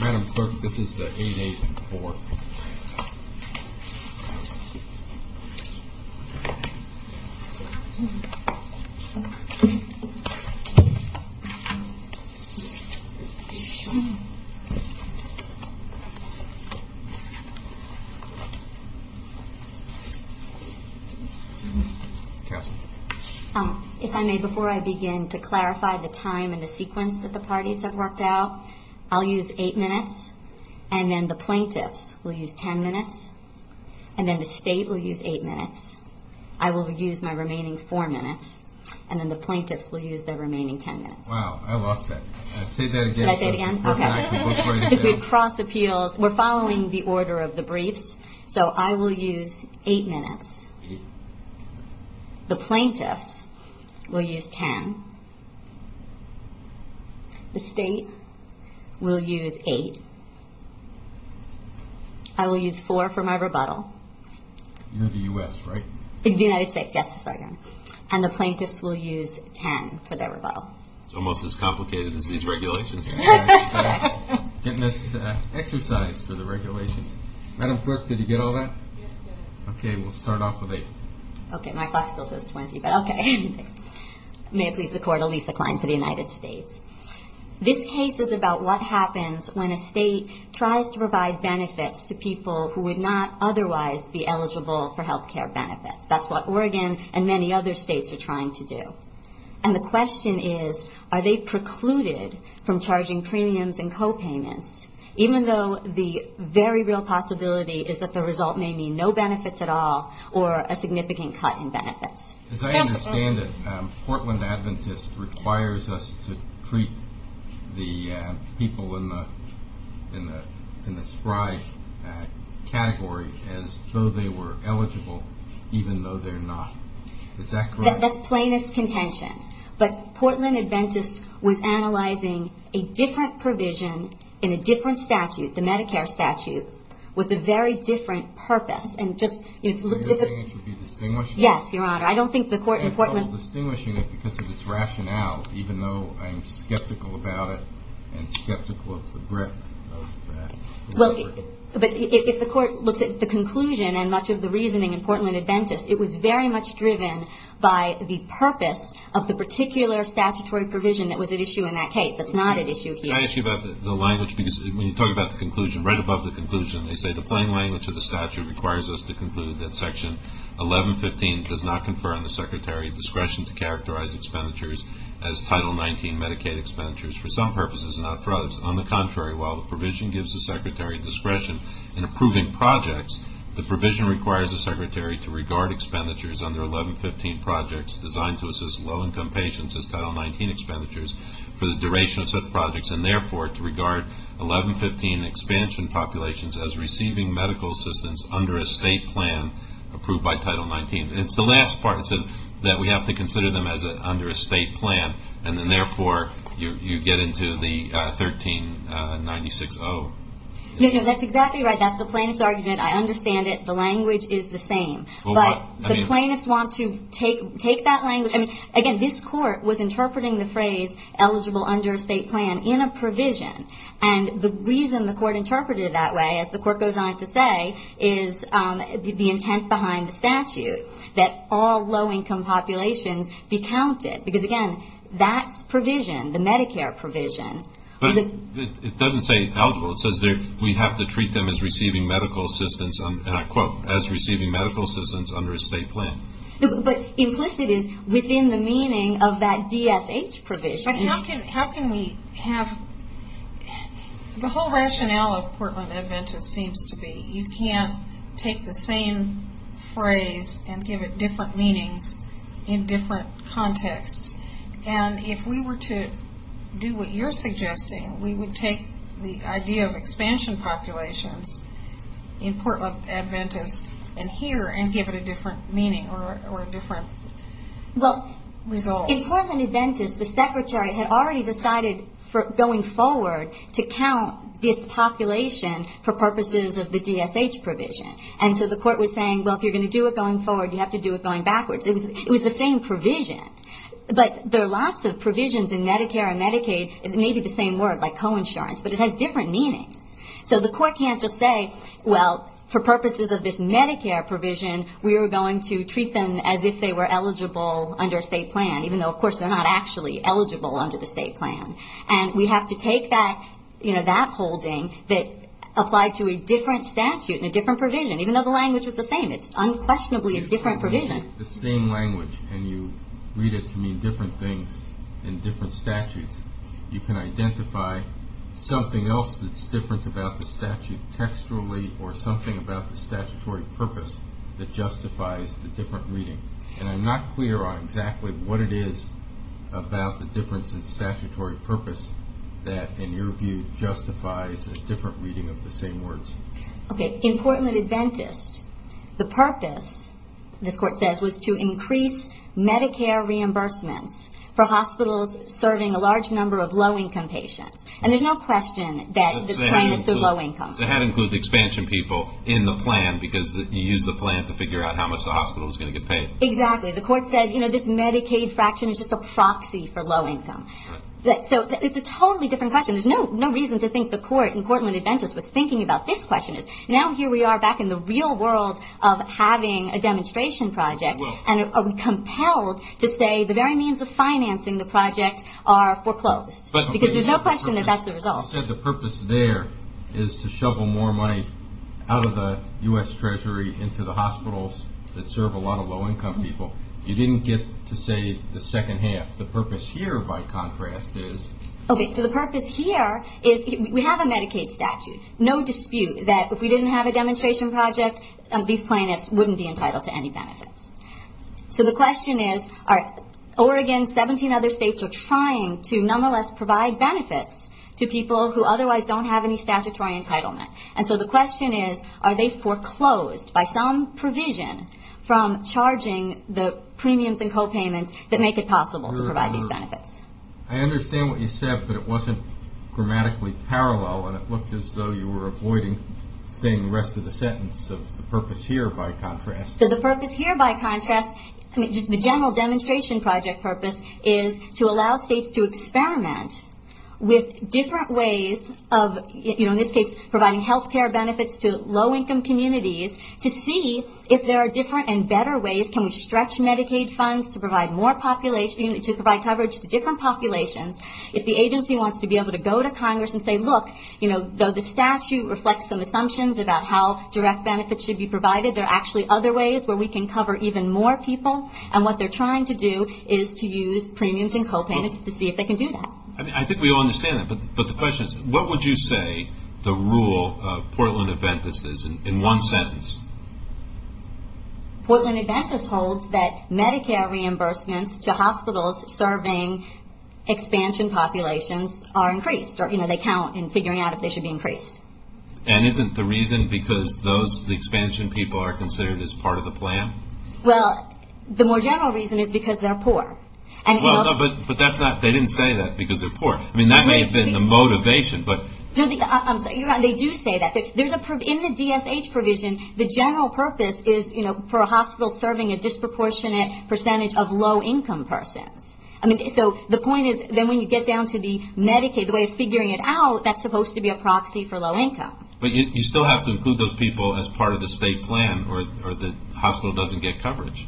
Madam Clerk, this is the 8-8-4. If I may, before I begin, to clarify the time and the sequence that the parties have worked out, I'll use 8 minutes, and then the plaintiffs will use 10 minutes, and then the State will use 8 minutes. I will use my remaining 4 minutes, and then the plaintiffs will use their remaining 10 minutes. Wow, I lost that. Say that again. Should I say it again? Okay. We're following the order of the briefs, so I will use 8 minutes. The plaintiffs will use 10. The State will use 8. I will use 4 for my rebuttal. You're the U.S., right? The United States, yes. Sorry. And the plaintiffs will use 10 for their rebuttal. It's almost as complicated as these regulations. Getting this exercised for the regulations. Madam Clerk, did you get all that? Yes, I did. Okay. We'll start off with 8. Okay. My clock still says 20, but okay. This case is about what happens when a State tries to provide benefits to people who would not otherwise be eligible for health care benefits. That's what Oregon and many other States are trying to do. And the question is, are they precluded from charging premiums and copayments, even though the very real possibility is that the result may mean no benefits at all or a significant cut in benefits? As I understand it, Portland Adventist requires us to treat the people in the spry category as though they were eligible, even though they're not. Is that correct? That's plaintiff's contention. But Portland Adventist was analyzing a different provision in a different statute, the Medicare statute, with a very different purpose. And just to look at the... Do you think it should be distinguished? Yes, Your Honor. I don't think the court in Portland... I'm distinguishing it because of its rationale, even though I'm skeptical about it and skeptical of the breadth of that. But if the court looks at the conclusion and much of the reasoning in Portland Adventist, it was very much driven by the purpose of the particular statutory provision that was at issue in that case. That's not at issue here. Can I ask you about the language? Because when you talk about the conclusion, right above the conclusion, they say the plain language of the statute requires us to conclude that Section 1115 does not confer on the Secretary discretion to characterize expenditures as Title 19 Medicaid expenditures, for some purposes and not for others. On the contrary, while the provision gives the Secretary discretion in approving projects, the provision requires the Secretary to regard expenditures under 1115 projects designed to assist low-income patients as Title 19 expenditures for the duration of such projects, and therefore to regard 1115 expansion populations as receiving medical assistance under a state plan approved by Title 19. It's the last part that says that we have to consider them as under a state plan, and then therefore you get into the 1396-0. No, no, that's exactly right. That's the plaintiff's argument. I understand it. The language is the same. But the plaintiffs want to take that language... Again, this Court was interpreting the phrase eligible under a state plan in a provision. And the reason the Court interpreted it that way, as the Court goes on to say, is the intent behind the statute, that all low-income populations be counted. Because, again, that's provision, the Medicare provision. But it doesn't say eligible. It says we have to treat them as receiving medical assistance, and I quote, as receiving medical assistance under a state plan. But implicit is within the meaning of that DSH provision. How can we have... The whole rationale of Portland Adventist seems to be you can't take the same phrase and give it different meanings in different contexts. And if we were to do what you're suggesting, we would take the idea of expansion populations in Portland Adventist and here, and give it a different meaning or a different result. Well, in Portland Adventist, the Secretary had already decided, going forward, to count this population for purposes of the DSH provision. And so the Court was saying, well, if you're going to do it going forward, you have to do it going backwards. It was the same provision. But there are lots of provisions in Medicare and Medicaid, maybe the same word, like co-insurance. But it has different meanings. So the Court can't just say, well, for purposes of this Medicare provision, we are going to treat them as if they were eligible under a state plan, even though, of course, they're not actually eligible under the state plan. And we have to take that, you know, that holding that applied to a different statute and a different provision, even though the language was the same. It's unquestionably a different provision. The same language, and you read it to mean different things in different statutes. You can identify something else that's different about the statute textually or something about the statutory purpose that justifies the different reading. And I'm not clear on exactly what it is about the difference in statutory purpose that, in your view, justifies a different reading of the same words. Okay. In Portland Adventist, the purpose, this Court says, was to increase Medicare reimbursements for hospitals serving a large number of low-income patients. And there's no question that the claimants are low-income. So that includes the expansion people in the plan, because you use the plan to figure out how much the hospital is going to get paid. Exactly. The Court said, you know, this Medicaid fraction is just a proxy for low-income. So it's a totally different question. There's no reason to think the Court in Portland Adventist was thinking about this question. Now here we are back in the real world of having a demonstration project, and are we financing the project or foreclosed? Because there's no question that that's the result. You said the purpose there is to shovel more money out of the U.S. Treasury into the hospitals that serve a lot of low-income people. You didn't get to say the second half. The purpose here, by contrast, is... Okay. So the purpose here is we have a Medicaid statute. No dispute that if we didn't have a demonstration project, these plaintiffs wouldn't be entitled to any benefits. So the question is, Oregon, 17 other states are trying to nonetheless provide benefits to people who otherwise don't have any statutory entitlement. And so the question is, are they foreclosed by some provision from charging the premiums and copayments that make it possible to provide these benefits? I understand what you said, but it wasn't grammatically parallel, and it looked as though you were avoiding saying the rest of the sentence. So the purpose here, by contrast... The general demonstration project purpose is to allow states to experiment with different ways of, in this case, providing health care benefits to low-income communities to see if there are different and better ways. Can we stretch Medicaid funds to provide coverage to different populations? If the agency wants to be able to go to Congress and say, look, though the statute reflects some assumptions about how direct benefits should be provided, there are actually other areas where we can cover even more people, and what they're trying to do is to use premiums and copayments to see if they can do that. I think we all understand that, but the question is, what would you say the rule of Portland Adventist is in one sentence? Portland Adventist holds that Medicare reimbursements to hospitals serving expansion populations are increased, or they count in figuring out if they should be increased. And isn't the reason because the expansion people are considered as part of the plan? Well, the more general reason is because they're poor. But they didn't say that because they're poor. I mean, that may have been the motivation, but... They do say that. In the DSH provision, the general purpose is for a hospital serving a disproportionate percentage of low-income persons. So the point is, then when you get down to the Medicaid, the way of figuring it out, that's supposed to be a proxy for low-income. But you still have to include those people as part of the state plan, or the hospital doesn't get coverage.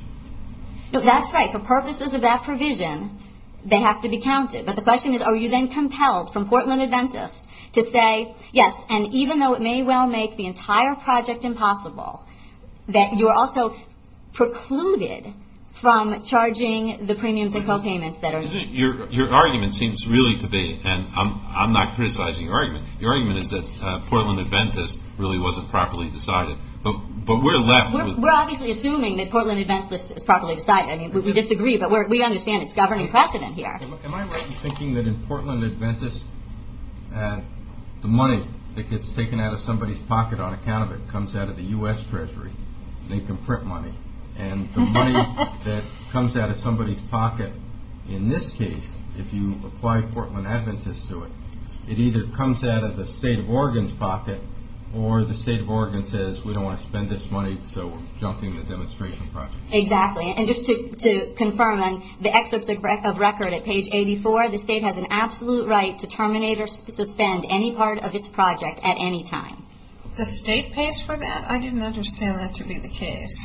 That's right. For purposes of that provision, they have to be counted. But the question is, are you then compelled from Portland Adventist to say, yes, and even though it may well make the entire project impossible, that you're also precluded from charging the premiums and copayments that are needed? Your argument seems really to be, and I'm not criticizing your argument. Your argument is that Portland Adventist really wasn't properly decided. But we're left with... We're obviously assuming that Portland Adventist is properly decided. I mean, we disagree, but we understand it's governing precedent here. Am I right in thinking that in Portland Adventist, the money that gets taken out of somebody's pocket on account of it comes out of the U.S. Treasury? They can print money. And the money that comes out of somebody's pocket in this case, if you apply Portland Adventist to it, it either comes out of the state of Oregon's pocket, or the state of Oregon says, we don't want to spend this money, so we're jumping the demonstration project. Exactly. And just to confirm, on the excerpts of record at page 84, the state has an absolute right to terminate or suspend any part of its project at any time. The state pays for that? I didn't understand that to be the case.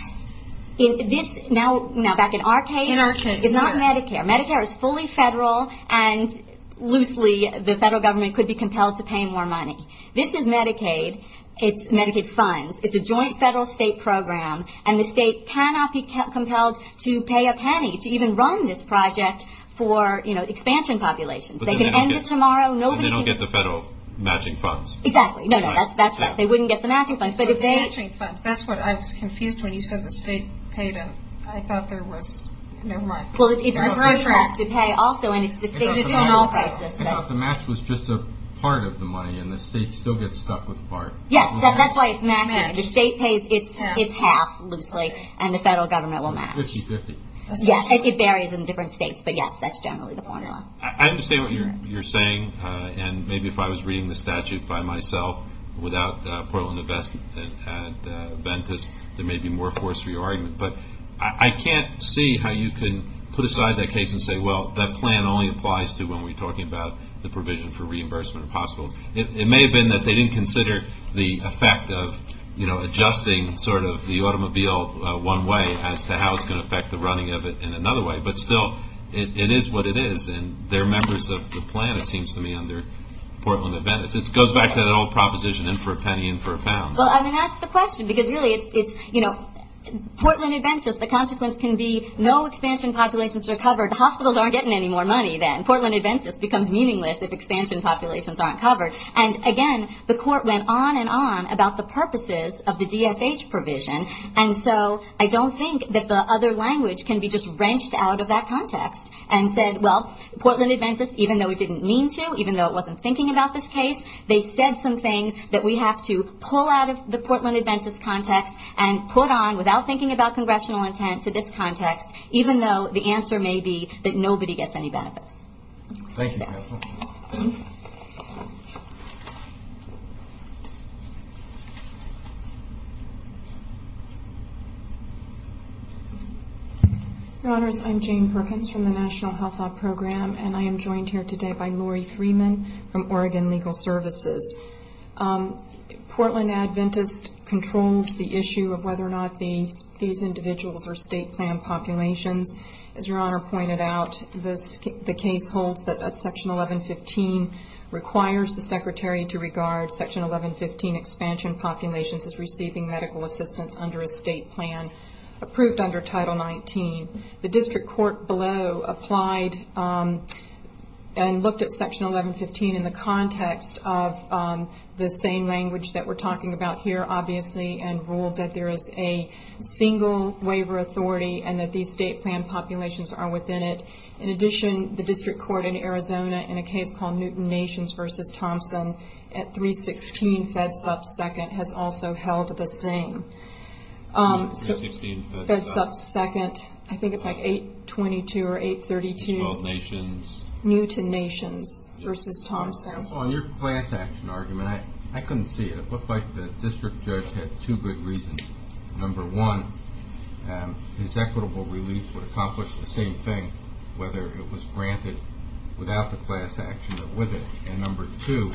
Now, back in our case, it's not Medicare. Medicare is fully federal, and loosely, the federal government could be compelled to pay more money. This is Medicaid. It's Medicaid funds. It's a joint federal-state program, and the state cannot be compelled to pay a penny to even run this project for expansion populations. They can end it tomorrow. And they don't get the federal matching funds. Exactly. No, no, that's right. They wouldn't get the matching funds. So it's the matching funds. That's what I was confused when you said the state paid, and I thought there was... Never mind. Well, it's the state that has to pay also, and it's the state that's on all sizes. I thought the match was just a part of the money, and the state still gets stuck with part. Yes, that's why it's matching. The state pays its half, loosely, and the federal government will match. This is 50. Yes, it varies in different states, but yes, that's generally the formula. I understand what you're saying, and maybe if I was reading the statute by myself, without Portland Invest at Ventus, there may be more force for your argument. But I can't see how you can put aside that case and say, well, that plan only applies to when we're talking about the provision for reimbursement of hospitals. It may have been that they didn't consider the effect of adjusting sort of the automobile one way as to how it's going to affect the running of it in another way. But still, it is what it is, and they're members of the plan, it seems to me, under Portland and Ventus. It goes back to that old proposition, in for a penny, in for a pound. Well, I mean, that's the question, because really it's, you know, Portland and Ventus, the consequence can be no expansion populations are covered. Hospitals aren't getting any more money then. Portland and Ventus becomes meaningless if expansion populations aren't covered. And again, the court went on and on about the purposes of the DSH provision, and so I don't think that the other language can be just wrenched out of that context, and said, well, Portland and Ventus, even though it didn't mean to, even though it wasn't thinking about this case, they said some things that we have to pull out of the Portland and Ventus context and put on, without thinking about congressional intent, to this context, even though the answer may be that nobody gets any benefits. Thank you, Crystal. Your Honors, I'm Jane Perkins from the National Health Law Program, and I am joined here today by Lori Freeman from Oregon Legal Services. Portland and Ventus controls the issue of whether or not these individuals are state plan populations. As Your Honor pointed out, the case holds that Section 1115 requires the Secretary to regard Section 1115 expansion populations as receiving medical assistance under a state plan approved under Title 19. The district court below applied and looked at Section 1115 in the context of the same language that we're talking about here, obviously, and ruled that there is a single waiver authority, and that these state plan populations are within it. In addition, the district court in Arizona, in a case called Newton Nations v. Thompson, at 316 Fedsup 2nd, has also held the same. 316 Fedsup 2nd, I think it's like 822 or 832, Newton Nations v. Thompson. On your class action argument, I couldn't see it. It looked like the district judge had two good reasons. Number one, his equitable relief would accomplish the same thing, whether it was granted without the class action or with it. And number two,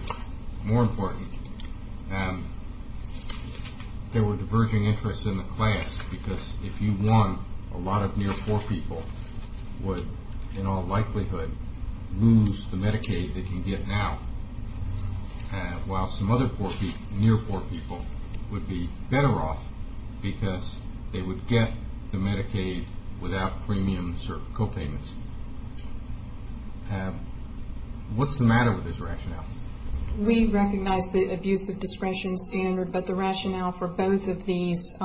more important, there were diverging interests in the class, because if you won, a lot of near poor people would, in all likelihood, lose the Medicaid they can get now, while some other near poor people would be better off, because they would get the Medicaid without premiums or copayments. What's the matter with this rationale? We recognize the abuse of discretion standard, but the rationale for both of these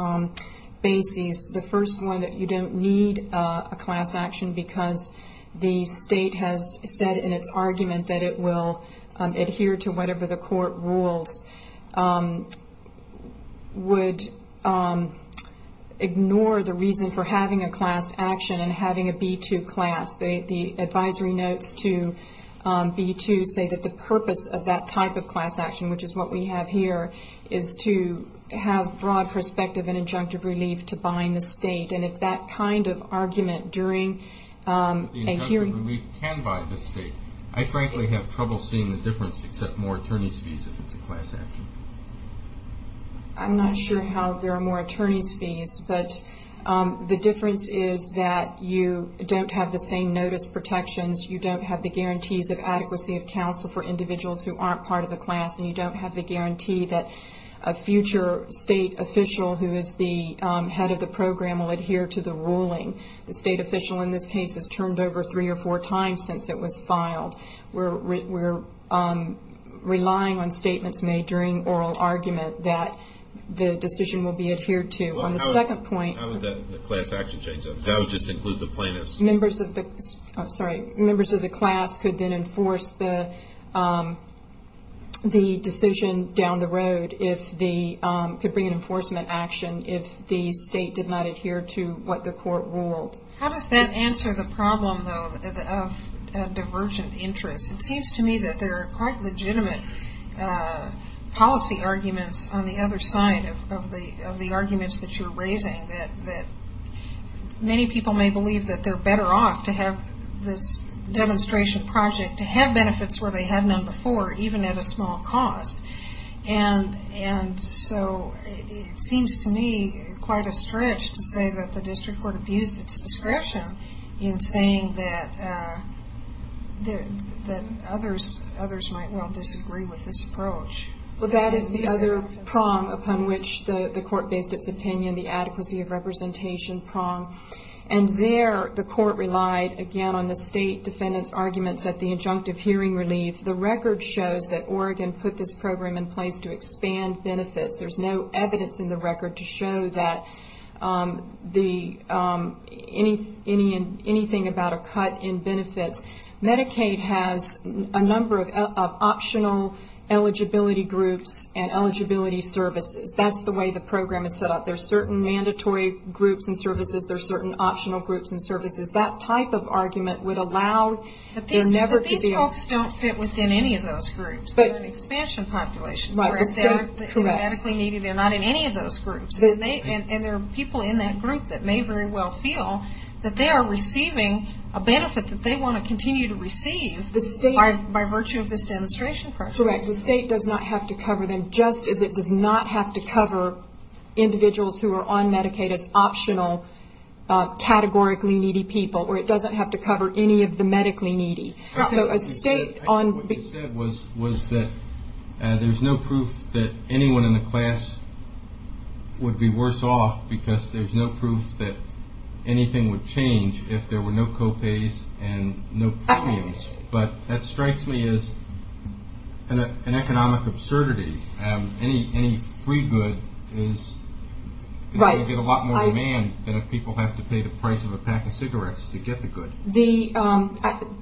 bases, the first one, that you don't need a class action, because the state has said in its argument that it will adhere to whatever the court rules, would ignore the reason for having a class action and having a B-2 class. The advisory notes to B-2 say that the purpose of that type of class action, which is what we have here, is to have broad perspective and injunctive relief to bind the state. And if that kind of argument during a hearing... If the injunctive relief can bind the state, I frankly have trouble seeing the difference except more attorney's fees if it's a class action. I'm not sure how there are more attorney's fees, but the difference is that you don't have the same notice protections. You don't have the guarantees of adequacy of counsel for individuals who aren't part of the class, and you don't have the guarantee that a future state official who is the head of the program will adhere to the ruling. The state official in this case has turned over three or four times since it was filed. We're relying on statements made during oral argument that the decision will be adhered to. On the second point... How would the class action change that? That would just include the plaintiffs. Sorry. Members of the class could then enforce the decision down the road if they could bring an enforcement action if the state did not adhere to what the court ruled. How does that answer the problem, though, of divergent interests? It seems to me that there are quite legitimate policy arguments on the other side of the arguments that you're raising that many people may believe that they're better off to have this demonstration project, to have benefits where they had none before, even at a small cost. It seems to me quite a stretch to say that the district court abused its discretion in saying that others might well disagree with this approach. That is the other prong upon which the court based its opinion, the adequacy of representation prong. There, the court relied, again, on the state defendant's arguments at the injunctive hearing relief. The record shows that Oregon put this program in place to expand benefits. There's no evidence in the record to show that anything about a cut in benefits. Medicaid has a number of optional eligibility groups and eligibility services. That's the way the program is set up. There are certain mandatory groups and services. There are certain optional groups and services. That type of argument would allow there never to be... These folks don't fit within any of those groups. They're an expansion population. They're medically needy. They're not in any of those groups. There are people in that group that may very well feel that they are receiving a benefit that they want to continue to receive by virtue of this demonstration project. Correct. The state does not have to cover them, just as it does not have to cover individuals who are on Medicaid as optional, categorically needy people, or it doesn't have to cover any of the medically needy. What you said was that there's no proof that anyone in the class would be worse off because there's no proof that anything would change if there were no co-pays and no premiums. That strikes me as an economic absurdity. Any free good is going to get a lot more demand than if people have to pay the price of a pack of cigarettes to get the good.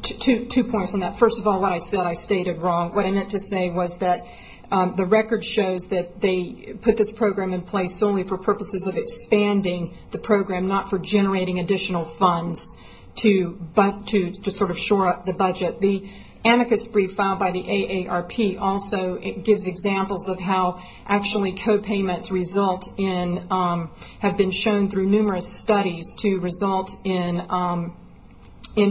Two points on that. First of all, what I said I stated wrong. What I meant to say was that the record shows that they put this program in place only for purposes of expanding the program, not for generating additional funds to shore up the budget. The amicus brief filed by the AARP also gives examples of how co-payments have been shown through numerous studies to result in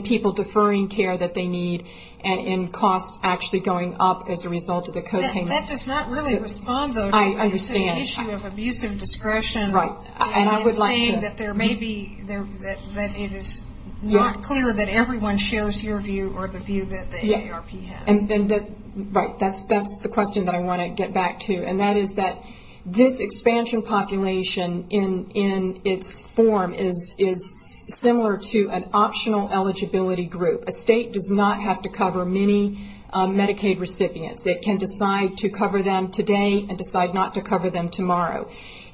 people deferring care that they need and costs actually going up as a result of the co-payments. That does not really respond to the issue of abusive discretion. It's saying that it is not clear that everyone shares your view or the view that the AARP has. That's the question that I want to get back to. That is that this expansion population in its form is similar to an optional eligibility group. A state does not have to cover many Medicaid recipients. It can decide to cover them today and decide not to cover them tomorrow.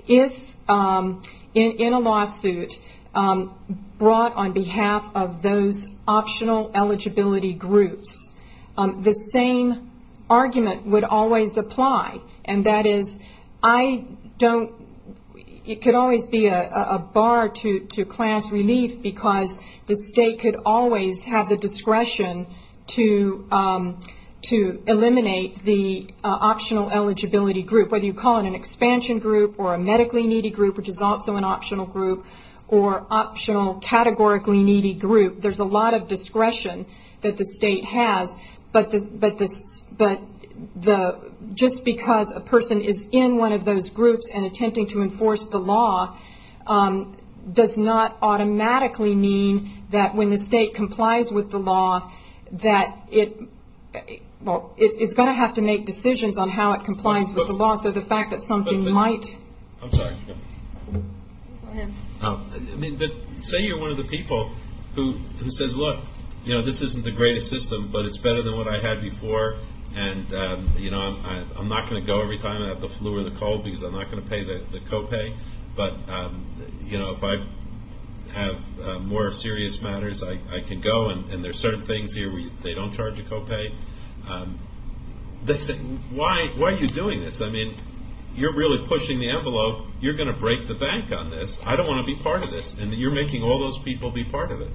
If in a lawsuit brought on behalf of those optional eligibility groups, the same argument would always apply. That is, it could always be a bar to class relief because the state could always have the discretion to eliminate the optional eligibility group. Whether you call it an expansion group or a medically needy group, which is also an optional group, or optional categorically needy group, there's a lot of discretion that the state has. Just because a person is in one of those groups and attempting to enforce the law does not automatically mean that when the state complies with the law, it's going to have to make decisions on how it complies with the law. So the fact that something might... I'm sorry. Go ahead. Say you're one of the people who says, look, this isn't the greatest system, but it's better than what I had before. I'm not going to go every time I have the flu or the cold because I'm not going to pay the copay. But if I have more serious matters, I can go. And there are certain things here where they don't charge a copay. They say, why are you doing this? You're really pushing the envelope. You're going to break the bank on this. I don't want to be part of this. And you're making all those people be part of it.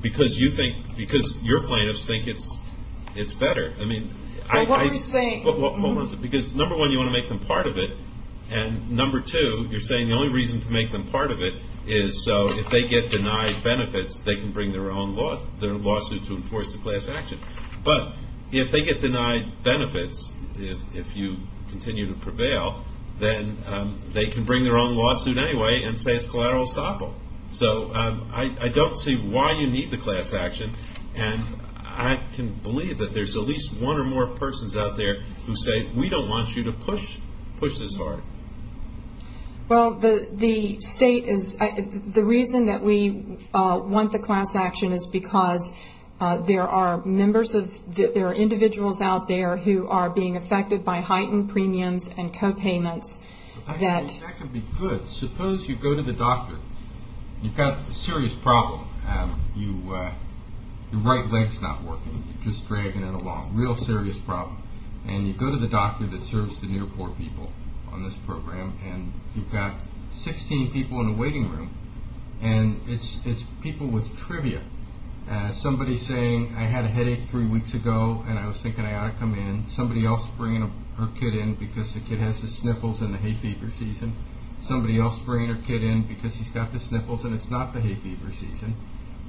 Because your plaintiffs think it's better. What are you saying? Because number one, you want to make them part of it. And number two, you're saying the only reason to make them part of it is so if they get denied benefits, they can bring their own lawsuit to enforce the class action. But if they get denied benefits, if you continue to prevail, then they can bring their own lawsuit anyway and say it's collateral estoppel. So I don't see why you need the class action. And I can believe that there's at least one or more persons out there who say, we don't want you to push this hard. Well, the reason that we want the class action is because there are individuals out there who are being affected by heightened premiums and copayments. That could be good. Suppose you go to the doctor. You've got a serious problem. Your right leg's not working. You're just dragging it along. It's a real serious problem. And you go to the doctor that serves the near-poor people on this program. And you've got 16 people in a waiting room. And it's people with trivia. Somebody's saying, I had a headache three weeks ago, and I was thinking I ought to come in. Somebody else bringing her kid in because the kid has the sniffles and the hay fever season. Somebody else bringing her kid in because he's got the sniffles and it's not the hay fever season.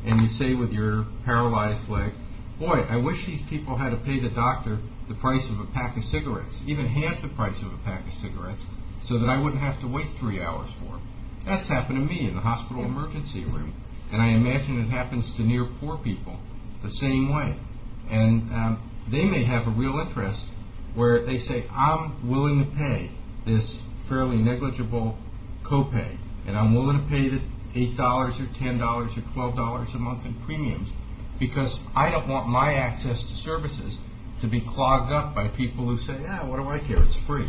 And you say with your paralyzed leg, boy, I wish these people had to pay the doctor the price of a pack of cigarettes. Even half the price of a pack of cigarettes so that I wouldn't have to wait three hours for them. That's happened to me in the hospital emergency room. And I imagine it happens to near-poor people the same way. And they may have a real interest where they say, I'm willing to pay this fairly negligible copay. And I'm willing to pay the $8 or $10 or $12 a month in premiums because I don't want my access to services to be clogged up by people who say, yeah, what do I care, it's free.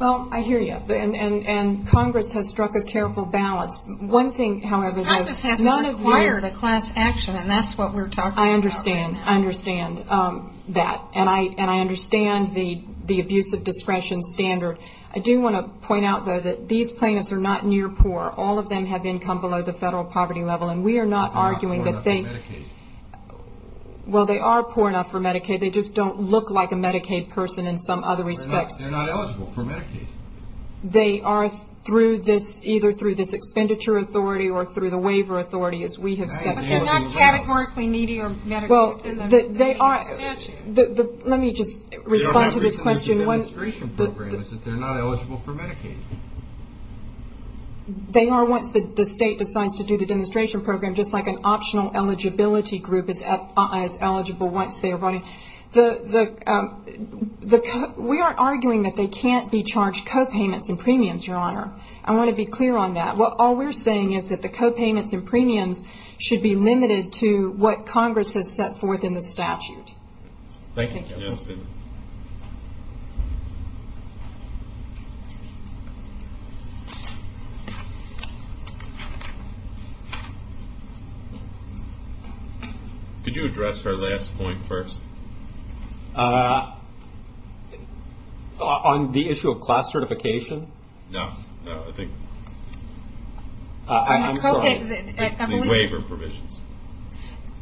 Well, I hear you. And Congress has struck a careful balance. One thing, however... Congress hasn't required a class action, and that's what we're talking about. I understand that. And I understand the abuse of discretion standard. I do want to point out, though, that these plaintiffs are not near-poor. All of them have income below the federal poverty level. And we are not arguing that they... They're not poor enough for Medicaid. Well, they are poor enough for Medicaid. They just don't look like a Medicaid person in some other respects. They're not eligible for Medicaid. They are either through this expenditure authority or through the waiver authority, as we have said. But they're not categorically needy or Medicaid within the Medicaid statute. Let me just respond to this question. The only reason we do the demonstration program is that they're not eligible for Medicaid. They are once the state decides to do the demonstration program, just like an optional eligibility group is eligible once they are running. We aren't arguing that they can't be charged copayments and premiums, Your Honor. I want to be clear on that. All we're saying is that the copayments and premiums should be limited to what Congress has set forth in the statute. Thank you. Could you address our last point first? On the issue of class certification? No. I'm sorry. The waiver provisions.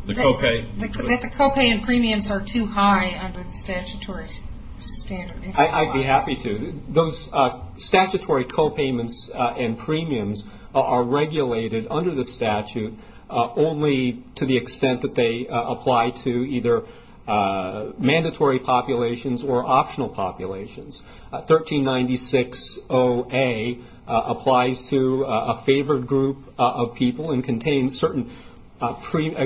The copay and premiums are too high under the statutory standard. I'd be happy to. Those statutory copayments and premiums are regulated under the statute only to the extent that they apply to either mandatory populations or optional populations. 1396-0A applies to a favored group of people and contains certain premium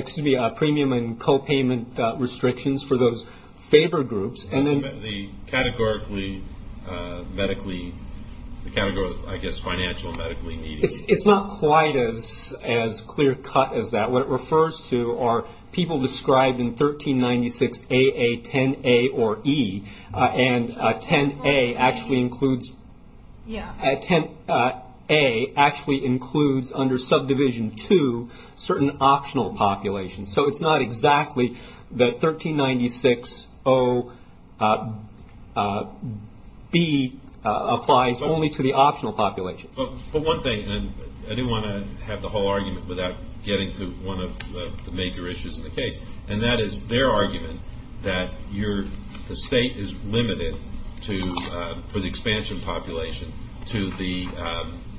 and copayment restrictions for those favored groups. The categorically medically I guess financial It's not quite as clear cut as that. What it refers to are people described in 1396-AA 10-A or E and 10-A actually includes 10-A actually includes under subdivision 2 certain optional populations. It's not exactly that 1396-0 B applies only to the optional populations. I didn't want to have the whole argument without getting to one of the major issues in the case and that is their argument that the state is limited to the expansion population to the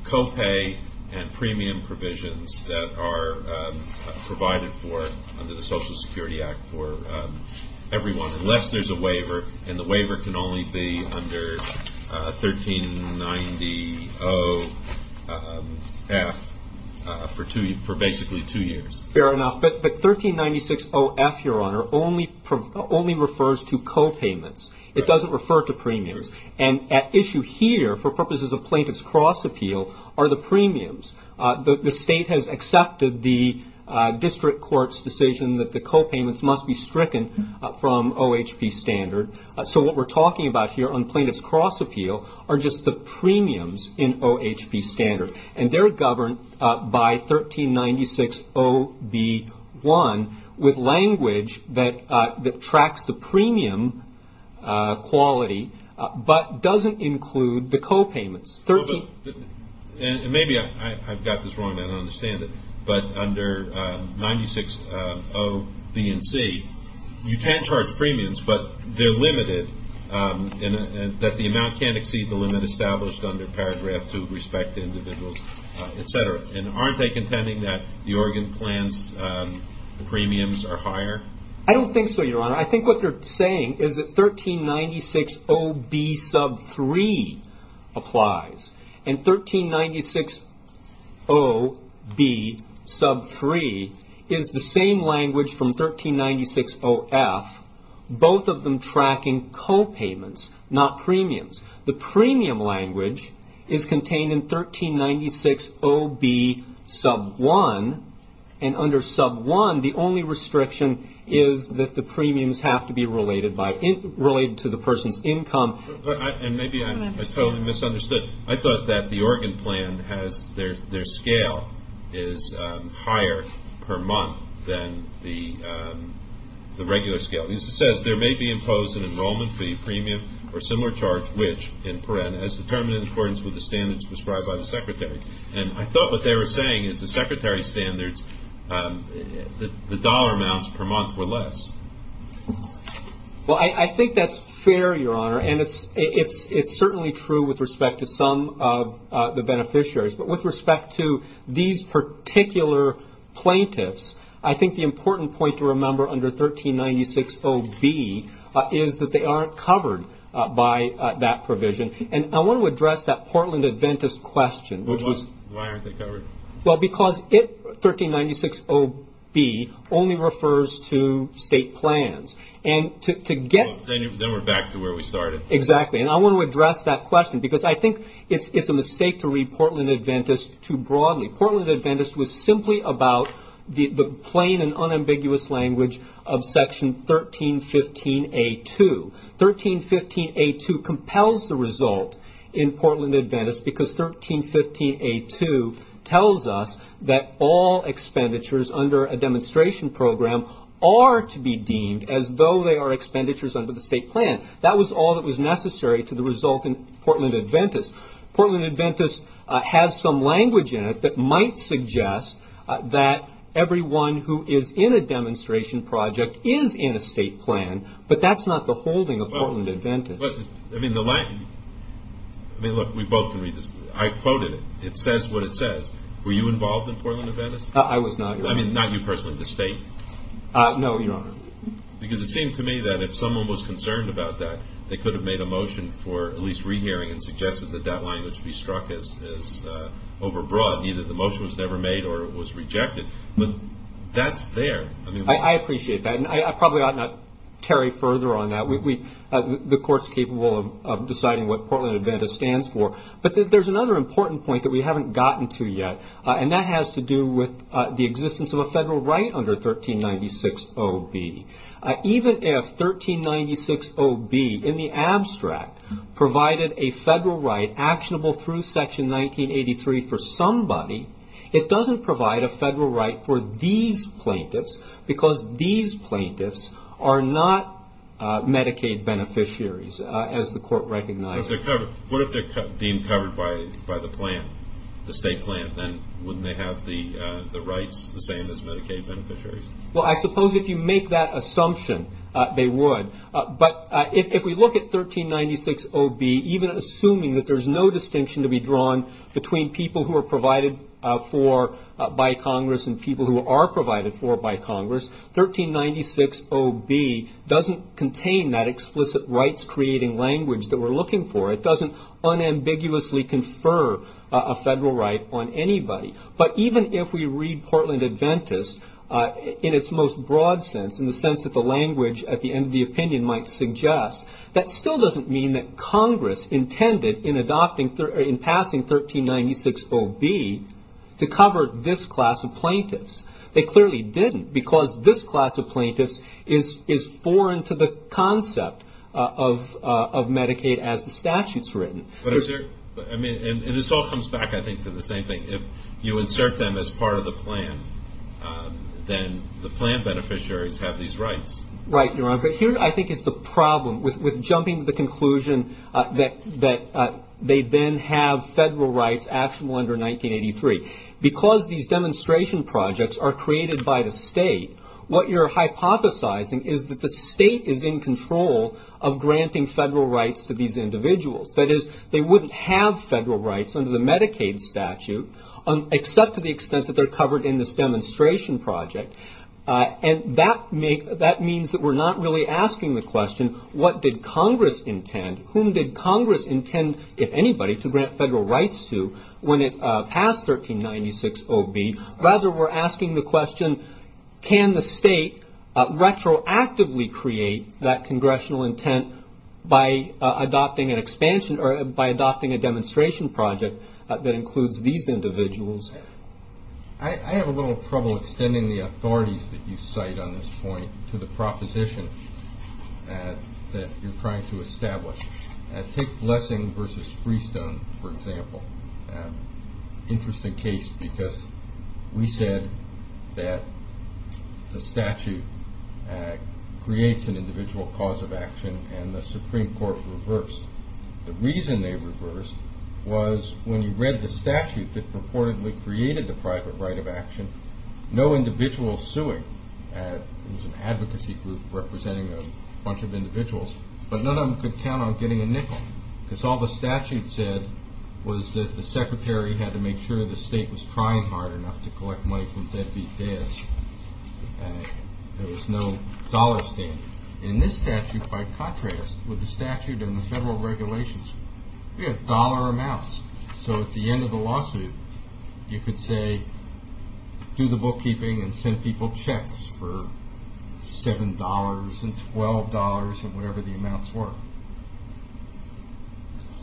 copay and premium provisions that are provided for under the Social Security Act for everyone unless there's a waiver and the waiver can only be under 1390-0 F for basically two years. Fair enough but 1396-0 F your honor only refers to copayments it doesn't refer to premiums and at issue here for purposes of plaintiff's cross appeal are the premiums the state has accepted the district court's decision that the copayments must be stricken from OHP standard so what we're talking about here on plaintiff's cross appeal are just the premiums in OHP standard and they're governed by 1396-0 B-1 with language that tracks the premium quality but doesn't include the copayments and maybe I've got this wrong and I don't understand it but under 96-0 B and C you can charge premiums but they're limited that the amount can't exceed the limit established under paragraph 2 respect to individuals etc and aren't they contending that the Oregon plans premiums are higher? I don't think so your honor I think what they're saying is that 1396-0 B-3 applies and 1396-0 B sub 3 is the same language from 1396-0 F both of them tracking copayments not premiums the premium language is contained in 1396-0 B sub 1 and under sub 1 the only restriction is that the premiums have to be related to the person's income and maybe I totally misunderstood I thought that the Oregon plan has their scale is higher per month than the regular scale it says there may be imposed an enrollment fee premium or similar charge which in paren as determined in accordance with the standards prescribed by the secretary and I thought what they were saying is the secretary standards the dollar amounts per month were less well I think that's fair your honor and it's certainly true with respect to some of the these particular plaintiffs I think the important point to remember under 1396-0 B is that they aren't covered by that provision and I want to address that Portland Adventist question why aren't they covered? 1396-0 B only refers to state plans then we're back to where we started exactly and I want to address that question because I think it's a mistake to read Portland Adventist was simply about the plain and unambiguous language of section 1315-A-2 1315-A-2 compels the result in Portland Adventist because 1315-A-2 tells us that all expenditures under a demonstration program are to be deemed as though they are expenditures under the state plan that was all that was necessary to the result in Portland Adventist Portland Adventist has some language in it that might suggest that everyone who is in a demonstration project is in a state plan but that's not the holding of Portland Adventist I mean look we both can read this. I quoted it. It says what it says. Were you involved in Portland Adventist? I was not. I mean not you personally the state? No your honor because it seemed to me that if someone was concerned about that they could have made a motion for at least re-hearing and over-broad either the motion was never made or it was rejected but that's there I appreciate that and I probably ought not carry further on that the court's capable of deciding what Portland Adventist stands for but there's another important point that we haven't gotten to yet and that has to do with the existence of a federal right under 1396-O-B even if 1396-O-B in the abstract provided a federal right actionable through section 1983 for somebody it doesn't provide a federal right for these plaintiffs because these plaintiffs are not Medicaid beneficiaries as the court recognized what if they're deemed covered by the plan, the state plan then wouldn't they have the rights the same as Medicaid beneficiaries well I suppose if you make that assumption they would but if we look at 1396-O-B even assuming that there's no distinction to be drawn between people who are provided for by Congress and people who are provided for by Congress, 1396-O-B doesn't contain that explicit rights creating language that we're looking for, it doesn't unambiguously confer a federal right on anybody but even if we read Portland Adventist in its most broad sense, in the sense that the language at the end of the opinion might suggest that still doesn't mean that Congress intended in adopting passing 1396-O-B to cover this class of plaintiffs, they clearly didn't because this class of plaintiffs is foreign to the concept of Medicaid as the statute's written and this all comes back I think to the same thing, if you insert them as part of the plan then the plan beneficiaries have these rights Right, but here I think is the problem with jumping to the conclusion that they then have federal rights actionable under 1983, because these demonstration projects are created by the state, what you're hypothesizing is that the state is in control of granting federal rights to these individuals that is, they wouldn't have federal rights under the Medicaid statute except to the extent that they're covered in this demonstration project and that means that we're not really asking the question what did Congress intend whom did Congress intend if anybody, to grant federal rights to when it passed 1396-O-B rather we're asking the question can the state retroactively create that congressional intent by adopting an expansion or by adopting a demonstration project that includes these individuals I have a little trouble extending the authorities that you cite on this point to the proposition that you're trying to establish take Blessing vs. Freestone for example interesting case because we said that the statute creates an individual cause of action and the Supreme Court reversed, the reason they reversed was when you read the statute that purportedly created the private right of action no individual suing there was an advocacy group representing a bunch of individuals but none of them could count on getting a nickel cause all the statute said was that the secretary had to make sure the state was trying hard enough to collect money from deadbeat debt and there was no dollar standard and this statute by contrast with the statute and the federal regulations dollar amounts so at the end of the lawsuit you could say do the bookkeeping and send people checks for $7 and $12 and whatever the amounts were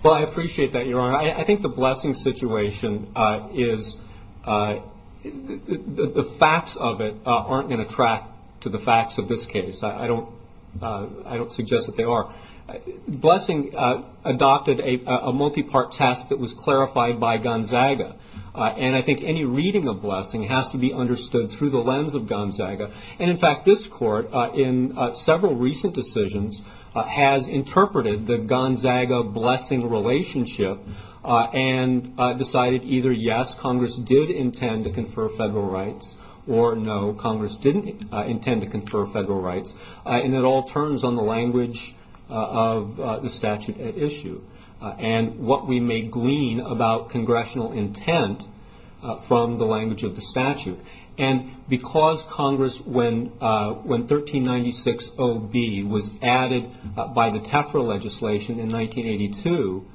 well I appreciate that your honor, I think the Blessing situation is the facts of it aren't going to track to the facts of this case I don't suggest that they are Blessing adopted a multi-part test that was clarified by Gonzaga and I think any reading of Blessing has to be understood through the lens of Gonzaga and in fact this court in several recent decisions has interpreted the Gonzaga Blessing relationship and decided either yes Congress did intend to confer federal rights or no Congress didn't intend to confer federal rights and it all turns on the language of the statute at issue and what we may glean about congressional intent from the language of the statute and because Congress when 1396 OB was added by the Tefra legislation in 1982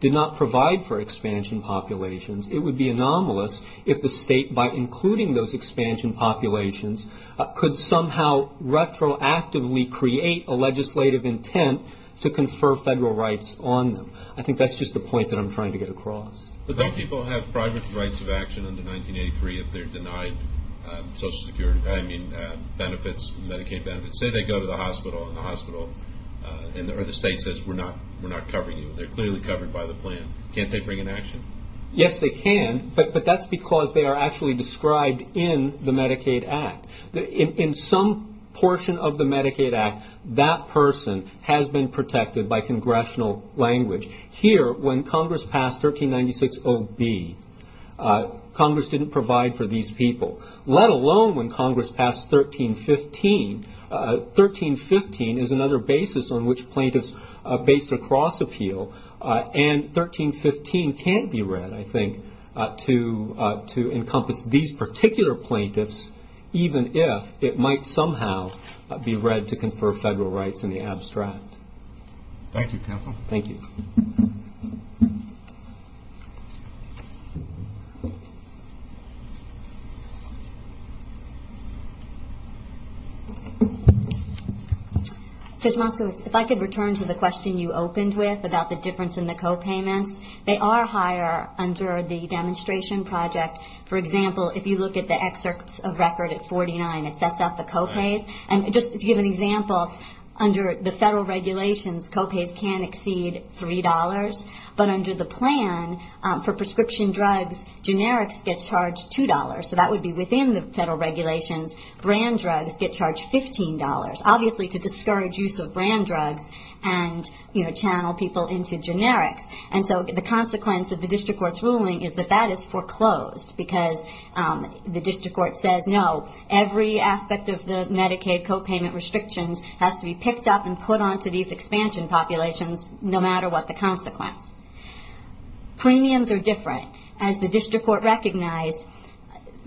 did not provide for expansion populations it would be anomalous if the state by including those expansion populations could somehow retroactively create a legislative intent to confer federal rights on them I think that's just the point that I'm trying to get across But don't people have private rights of action under 1983 if they're denied social security benefits, Medicaid benefits say they go to the hospital and the state says we're not covering you, they're clearly covered by the plan can't they bring an action? Yes they can, but that's because they are actually described in the Medicaid Act in some portion of the Medicaid Act that person has been protected by congressional language here when Congress passed 1396 OB Congress didn't provide for these people let alone when Congress passed 1315 1315 is another basis on which plaintiffs based across appeal and 1315 can't be read I think to encompass these particular plaintiffs even if it might somehow be read to confer federal rights in the abstract Thank you counsel Thank you Judge Monsowitz, if I could return to the question you opened with about the difference in the copayments they are higher under the demonstration project for example if you look at the excerpts of record at 49 it sets up the copays and just to give an example under the federal regulations copays can exceed $3 but under the plan for prescription drugs generics get charged $2 so that would be within the federal regulations brand drugs get charged $15 obviously to discourage use of brand drugs and channel people into generics and so the consequence of the district court's ruling is that that is foreclosed because the district court says no every aspect of the Medicaid copayment restrictions has to be picked up and put onto these expansion populations no matter what the consequence premiums are different as the district court recognized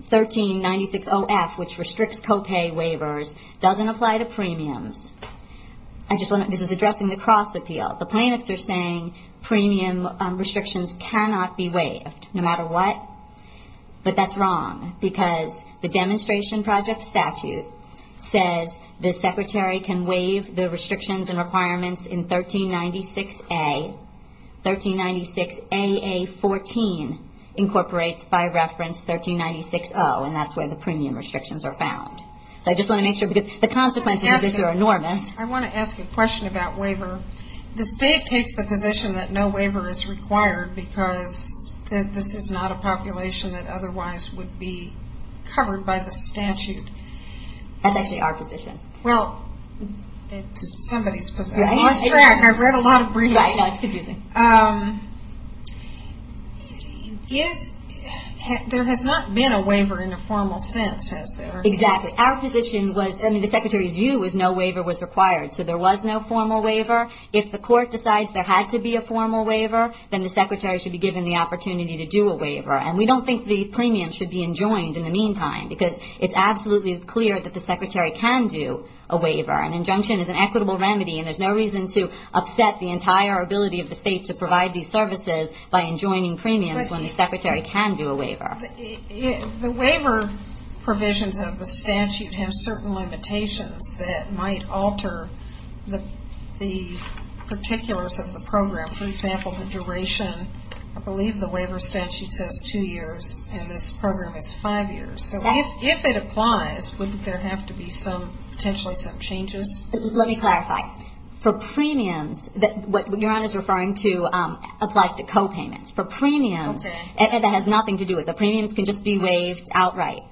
1396 OF which restricts copay waivers doesn't apply to premiums this is addressing the cross appeal the plaintiffs are saying premium restrictions cannot be waived no matter what but that's wrong because the demonstration project statute says the secretary can waive the restrictions and requirements in 1396 A 1396 AA 14 incorporates by reference 1396 O and that's where the premium restrictions are found so I just want to make sure the consequences of this are enormous I want to ask a question about waiver the state takes the position that no waiver is required because this is not a population that otherwise would be covered by the statute that's actually our position well I've read a lot of briefs there has not been a waiver in a formal sense exactly our position was the secretary's view was no waiver was required so there was no formal waiver if the court decides there had to be a formal waiver then the secretary should be given the opportunity to do a waiver and we don't think the premium should be enjoined in the meantime because it's absolutely clear that the secretary can do a waiver an injunction is an equitable remedy and there's no reason to upset the entire ability of the state to provide these services by enjoining premiums when the secretary can do a waiver the waiver provisions of the statute have certain limitations that might alter the particulars of the program for example the duration I believe the waiver statute says two years and this program is five years if it applies wouldn't there have to be some potentially some changes let me clarify for premiums what your honor is referring to applies to co-payments for premiums it has nothing to do with the premiums can just be waived outright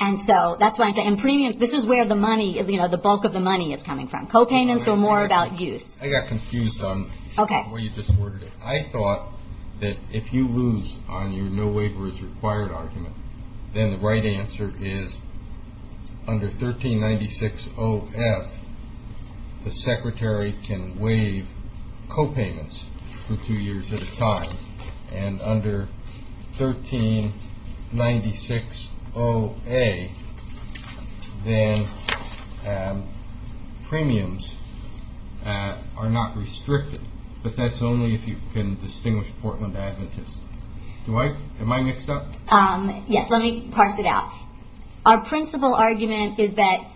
and so that's why this is where the bulk of the money is coming from co-payments or more about use I thought that if you lose on your no waiver is required argument then the right answer is under 1396 0F the secretary can waive co-payments for two years at a time and under 1396 0A then premiums are not restricted but that's only if you can distinguish Portland Adventist am I mixed up yes let me parse it out our principle argument is that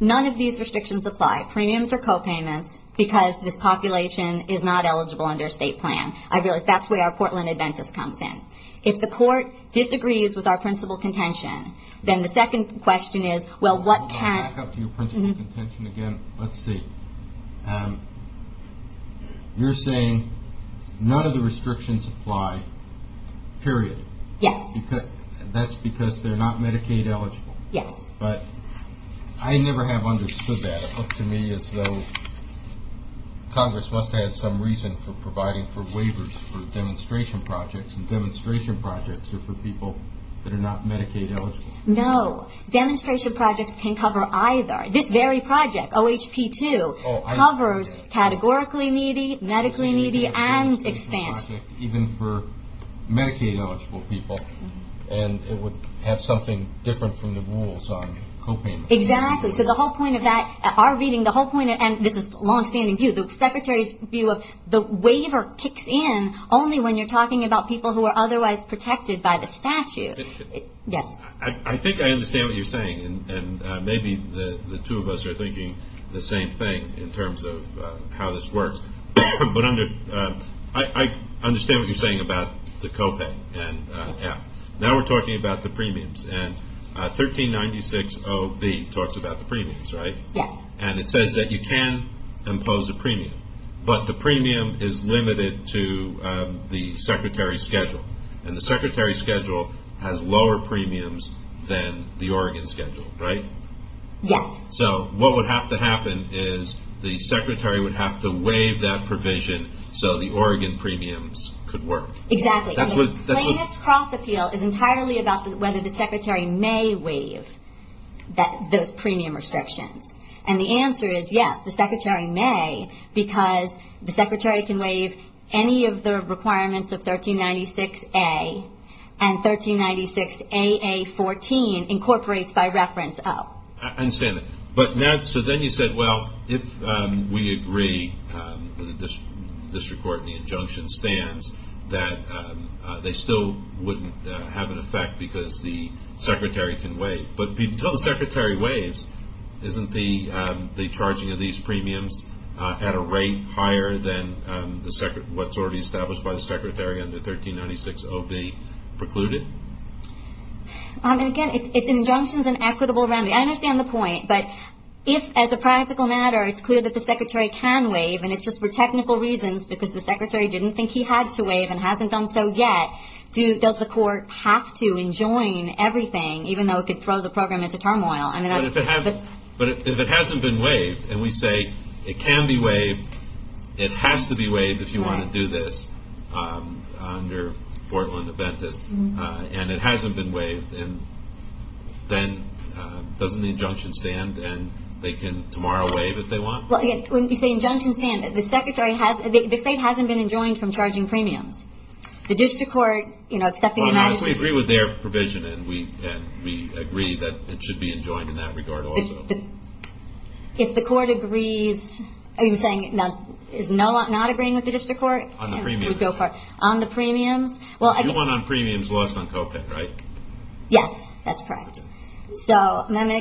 none of these restrictions apply premiums or co-payments because this population is not eligible under state plan I realize that's where our Portland Adventist comes in if the court disagrees with our principle contention then the second question is well what can let's see um you're saying none of the restrictions apply period yes that's because they're not Medicaid eligible yes but I never have understood that it looked to me as though congress must have had some reason for providing for waivers for demonstration projects demonstration projects are for people that are not Medicaid eligible no demonstration projects can cover either this very project OHP2 covers categorically needy medically needy and expansion even for Medicaid eligible people and it would have something different from the rules on co-payments exactly so the whole point of that our reading the whole point this is long standing view the secretary's view of the waiver kicks in only when you're talking about people who are otherwise protected by the statute yes I think I understand what you're saying and maybe the two of us are thinking the same thing in terms of how this works but under I understand what you're saying about the co-pay and now we're talking about the premiums and 1396 OB talks about the premiums right yes and it says that you can impose a premium but the premium is limited to the secretary's schedule and the secretary's schedule has lower premiums than the Oregon schedule right yes so what would have to happen is the secretary would have to waive that provision so the Oregon premiums could work exactly plaintiff's cross appeal is entirely about whether the secretary may waive those premium restrictions and the answer is yes the secretary may because the secretary can waive any of the requirements of 1396 A and 1396 AA 14 incorporates by reference O I understand that but so then you said well if we agree the district court and the injunction stands that they still wouldn't have an effect because the secretary can waive but until the secretary waives isn't the rate higher than what's already established by the secretary on the 1396 OB precluded again it's injunctions and equitable remedy I understand the point but if as a practical matter it's clear that the secretary can waive and it's just for technical reasons because the secretary didn't think he had to waive and hasn't done so yet does the court have to enjoin everything even though it could throw the program into turmoil but if it hasn't been waived and we say it can be waived it has to be waived if you want to do this under Portland Aventis and it hasn't been waived then doesn't the injunction stand and they can tomorrow waive if they want when you say injunction stand the secretary the state hasn't been enjoined from charging premiums the district court you know accepting the matter we agree with their provision and we agree that it should be enjoined in that regard also if the court agrees are you saying not agreeing with the district court on the premiums you won on premiums lost on copay right? yes that's correct the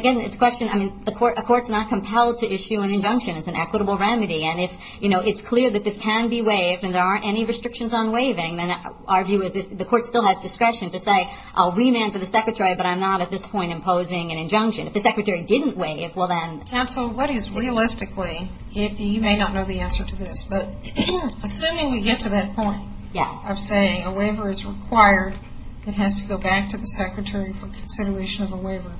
court's not compelled to issue an injunction it's an equitable remedy and if it's clear that this can be waived and there aren't any restrictions on waiving then our view is the court still has discretion to say I'll remand to the secretary but I'm not at this point imposing an injunction if the secretary didn't waive then council what is realistically you may not know the answer to this but assuming we get to that point of saying a waiver is required it has to go back to the secretary for consideration of a waiver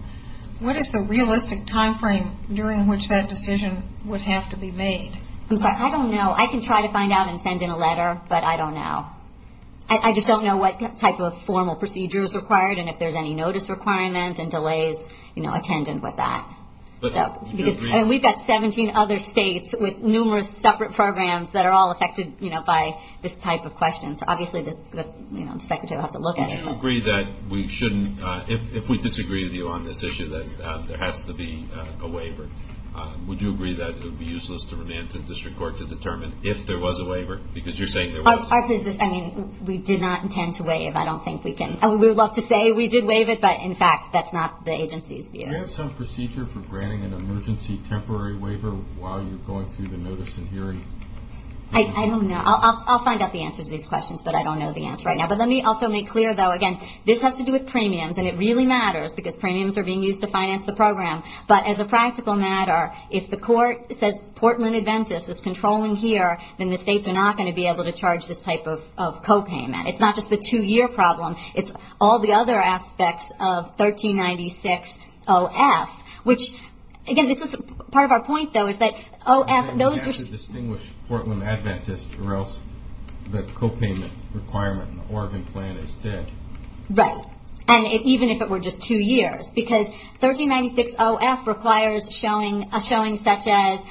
what is the realistic time frame during which that decision would have to be made I don't know I can try to find out and send in a letter but I don't know I just don't know what type of formal procedure is required and if there's any notice requirement and delays attendant with that we've got 17 other states with numerous separate programs that are all affected by this type of question so obviously the secretary will have to look at it if we disagree with you on this issue that there has to be a waiver would you agree that it would be useless to remand to the district court to determine if there was a waiver because you're saying there was we did not intend to waive I would love to say we did waive it but in fact that's not the agency's view. Do you have some procedure for granting an emergency temporary waiver while you're going through the notice and hearing? I don't know I'll find out the answer to these questions but I don't know the answer right now but let me also make clear though again this has to do with premiums and it really matters because premiums are being used to finance the program but as a practical matter if the court says Portland Adventist is controlling here then the states are not going to be able to charge this type of problem it's all the other aspects of 1396 OF which again this is part of our point though OF those Portland Adventist the copayment requirement Oregon plan is dead right and even if it were just two years because 1396 OF requires a showing such as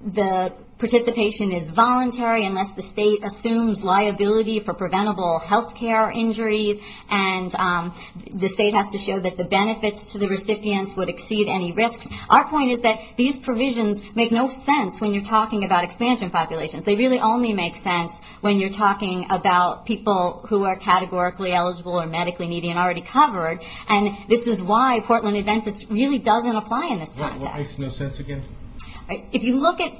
the participation is voluntary unless the state assumes liability for preventable health care injuries and the state has to show that the benefits to the recipients would exceed any risks our point is that these provisions make no sense when you're talking about expansion populations they really only make sense when you're talking about people who are categorically eligible or medically needy and already covered and this is why Portland Adventist really doesn't apply in this context if you look at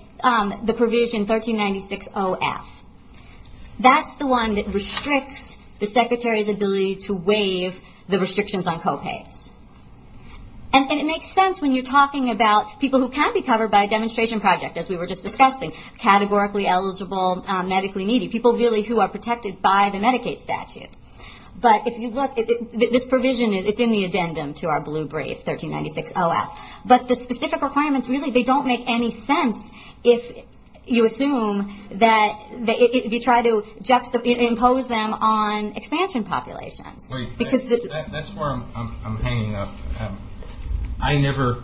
the provision 1396 OF that's the one that restricts the secretary's ability to waive the restrictions on copays and it makes sense when you're talking about people who can be covered by a demonstration project as we were just discussing categorically eligible medically needy people who are protected by the Medicaid statute but if you look this provision it's in the addendum to our blue brief 1396 OF but the specific requirements really they don't make any sense if you assume that if you try to impose them on expansion populations that's where I'm hanging up I never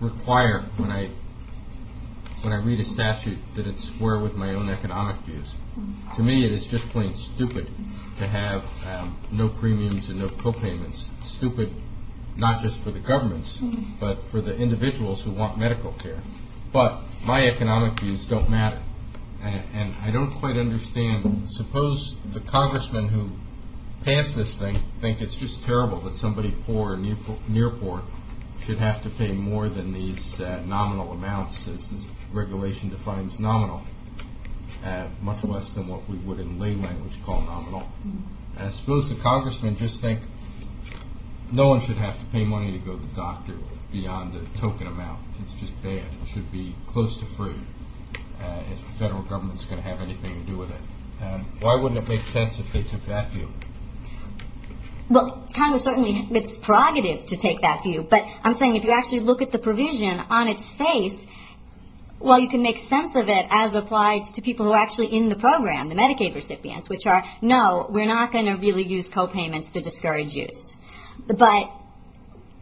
require when I read a statute that it's square with my own economic views to me it's just plain stupid to have no premiums and no copayments stupid not just for the governments but for the individuals who want medical care but my economic views don't matter and I don't quite understand suppose the congressman who passed this thing think it's just terrible that somebody poor or near poor should have to pay more than these nominal amounts as this regulation defines nominal much less than what we would in lay language call nominal suppose the congressman just think no one should have to pay money to go to the doctor beyond the should be close to free if the federal government is going to have anything to do with it why wouldn't it make sense if they took that view well congress certainly it's prerogative to take that view but I'm saying if you actually look at the provision on it's face well you can make sense of it as applied to people who are actually in the program the Medicaid recipients which are no we're not going to really use copayments to discourage use but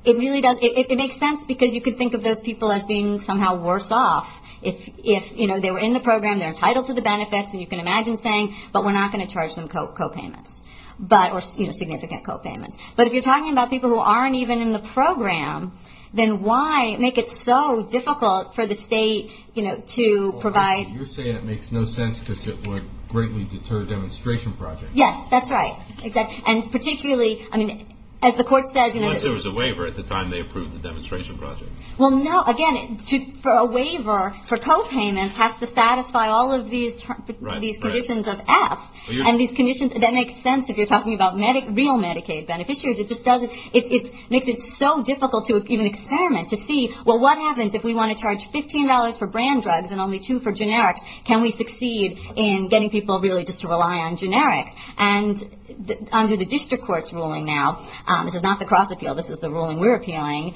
it really does it makes sense because you could think of those people as being somehow worse off if you know they were in the program they're entitled to the benefits and you can imagine saying but we're not going to charge them copayments but or significant copayments but if you're talking about people who aren't even in the program then why make it so difficult for the state to provide it makes no sense because it would greatly deter demonstration projects yes that's right and particularly I mean as the court says unless there was a waiver at the time they approved the demonstration project well no again for a waiver for copayments has to satisfy all of these conditions of F and these conditions that make sense if you're talking about real Medicaid beneficiaries it makes it so difficult to even experiment to see well what happens if we want to charge $15 for brand drugs and only two for generics can we succeed in getting people really just to rely on generics and under the district courts ruling now this is not the cross appeal this is the ruling we're appealing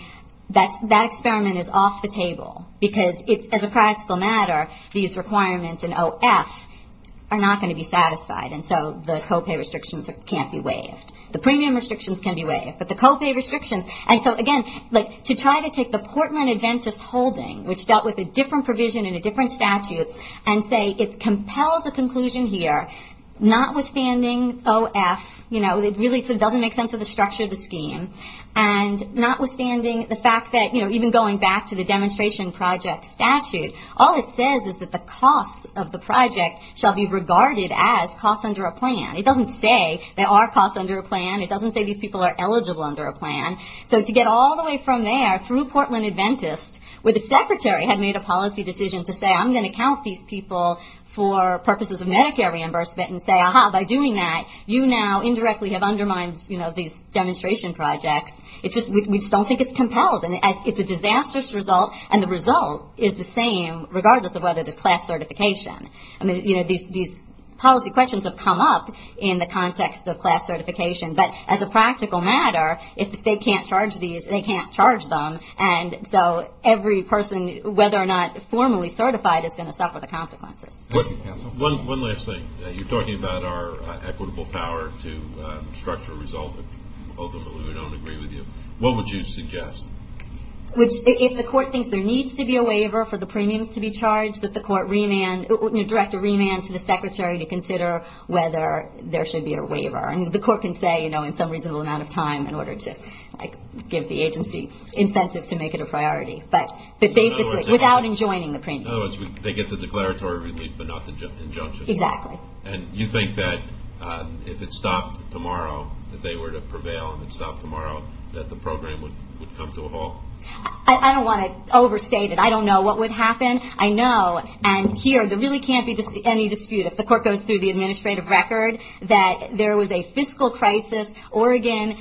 that experiment is off the table because as a practical matter these requirements in OF are not going to be satisfied so the copay restrictions can't be waived the premium restrictions can be waived but the copay restrictions to try to take the Portland Adventist holding which dealt with a different provision in a different statute and say it compels a conclusion here notwithstanding OF it doesn't make sense of the structure of the scheme and notwithstanding the fact that even going back to the demonstration project statute all it says is that the costs of the project shall be regarded as costs under a plan it doesn't say there are costs under a plan it doesn't say these people are eligible under a plan so to get all the way from there through Portland Adventist where the secretary had made a policy decision to say I'm going to count these people for purposes of Medicare reimbursement and say by doing that you now indirectly have undermined these demonstration projects we just don't think it's compelled it's a disastrous result and the result is the same regardless of whether there's class certification these policy questions have come up in the context of class certification but as a practical matter if the state can't charge these they can't charge them so every person whether or not formally certified is going to suffer the consequences one last thing you're talking about our equitable power to structure a result ultimately we don't agree with you what would you suggest if the court thinks there needs to be a waiver for the premiums to be charged that the court direct a remand to the secretary to consider whether there should be a waiver the court can say in some reasonable amount of time in order to give the agency incentive to make it a priority without enjoining the premiums they get the declaratory relief but not the injunction and you think that if it stopped tomorrow if they were to prevail and it stopped tomorrow that the program would come to a halt I don't want to overstate it I don't know what would happen I know and here there really can't be any dispute if the court goes through the administrative record that there was a fiscal crisis Oregon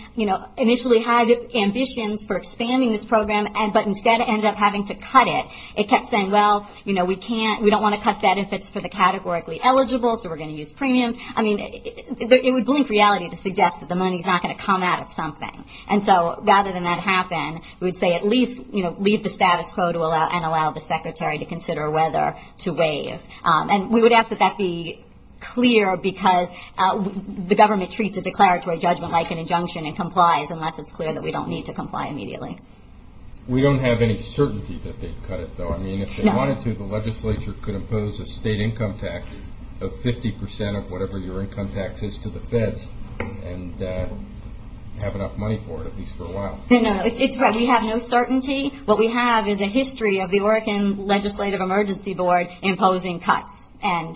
initially had ambitions for expanding this program but instead ended up having to cut it it kept saying well we don't want to cut benefits for the categorically eligible so we're going to use premiums it would blink reality to suggest that the money is not going to come out of something and so rather than that happen we would say at least leave the status quo and allow the secretary to consider whether to waive and we would ask that that be clear because the government treats a declaratory judgment like an injunction and complies unless it's clear that we don't need to comply immediately We don't have any certainty that they'd cut it though I mean if they wanted to the legislature could impose a state income tax of 50% of whatever your income tax is to the feds and have enough money for it at least for a while It's right we have no certainty what we have is a history of the Oregon Legislative Emergency Board imposing cuts and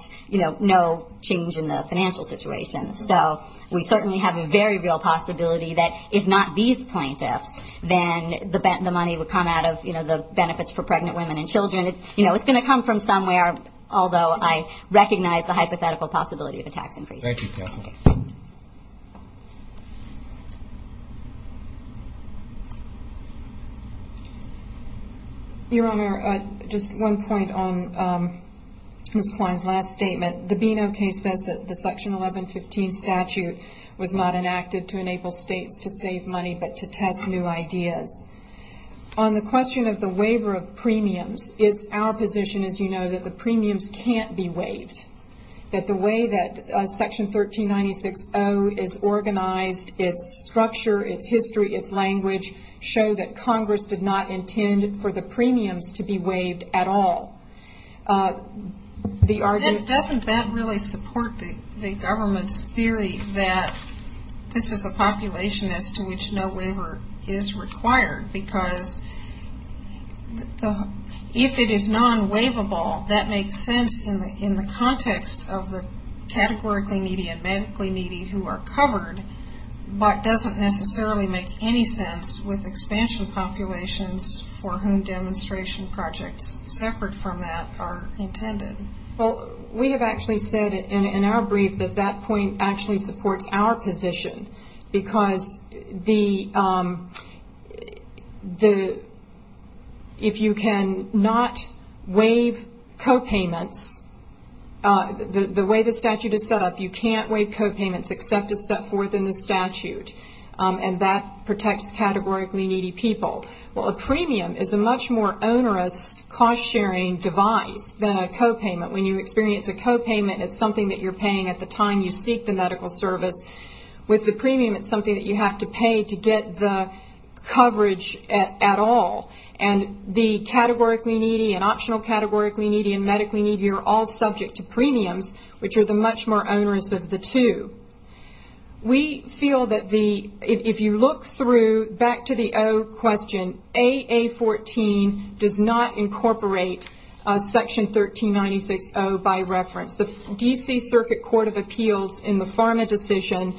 no change in the financial situation so we certainly have a very real possibility that if not these plaintiffs then the money would come out of the benefits for pregnant women and children It's going to come from somewhere although I recognize the hypothetical possibility of a tax increase Thank you Kathleen Your Honor, just one point on Ms. Klein's last statement The Beano case says that the section 1115 statute was not enacted to enable states to save money but to test new ideas On the question of the waiver of premiums it's our position as you know that the premiums can't be waived that the way that section 1396-0 is organized it's structure, it's history it's language show that Congress did not intend for the premiums to be waived at all Doesn't that really support the government's theory that this is a population as to which no waiver is required because if it is non-waivable that makes sense in the context of the categorically needy and medically needy who are covered but doesn't necessarily make any sense with expansion populations for whom demonstration projects separate from that are intended Well, we have actually said in our brief that that point actually supports our position because the if you can not waive copayments the way the statute is set up you can't waive copayments except it's set forth in the statute and that protects categorically needy people. Well a premium is a much more onerous cost sharing device than a copayment when you experience a copayment it's something that you're paying at the time you seek the medical service with the premium it's something that you have to pay to get the coverage at all and the categorically needy and optional categorically needy and medically needy are all subject to premiums which are the much more onerous of the two. We feel that if you look through back to the O question AA14 does not incorporate section 1396 O by reference. The DC circuit court of appeals in the pharma decision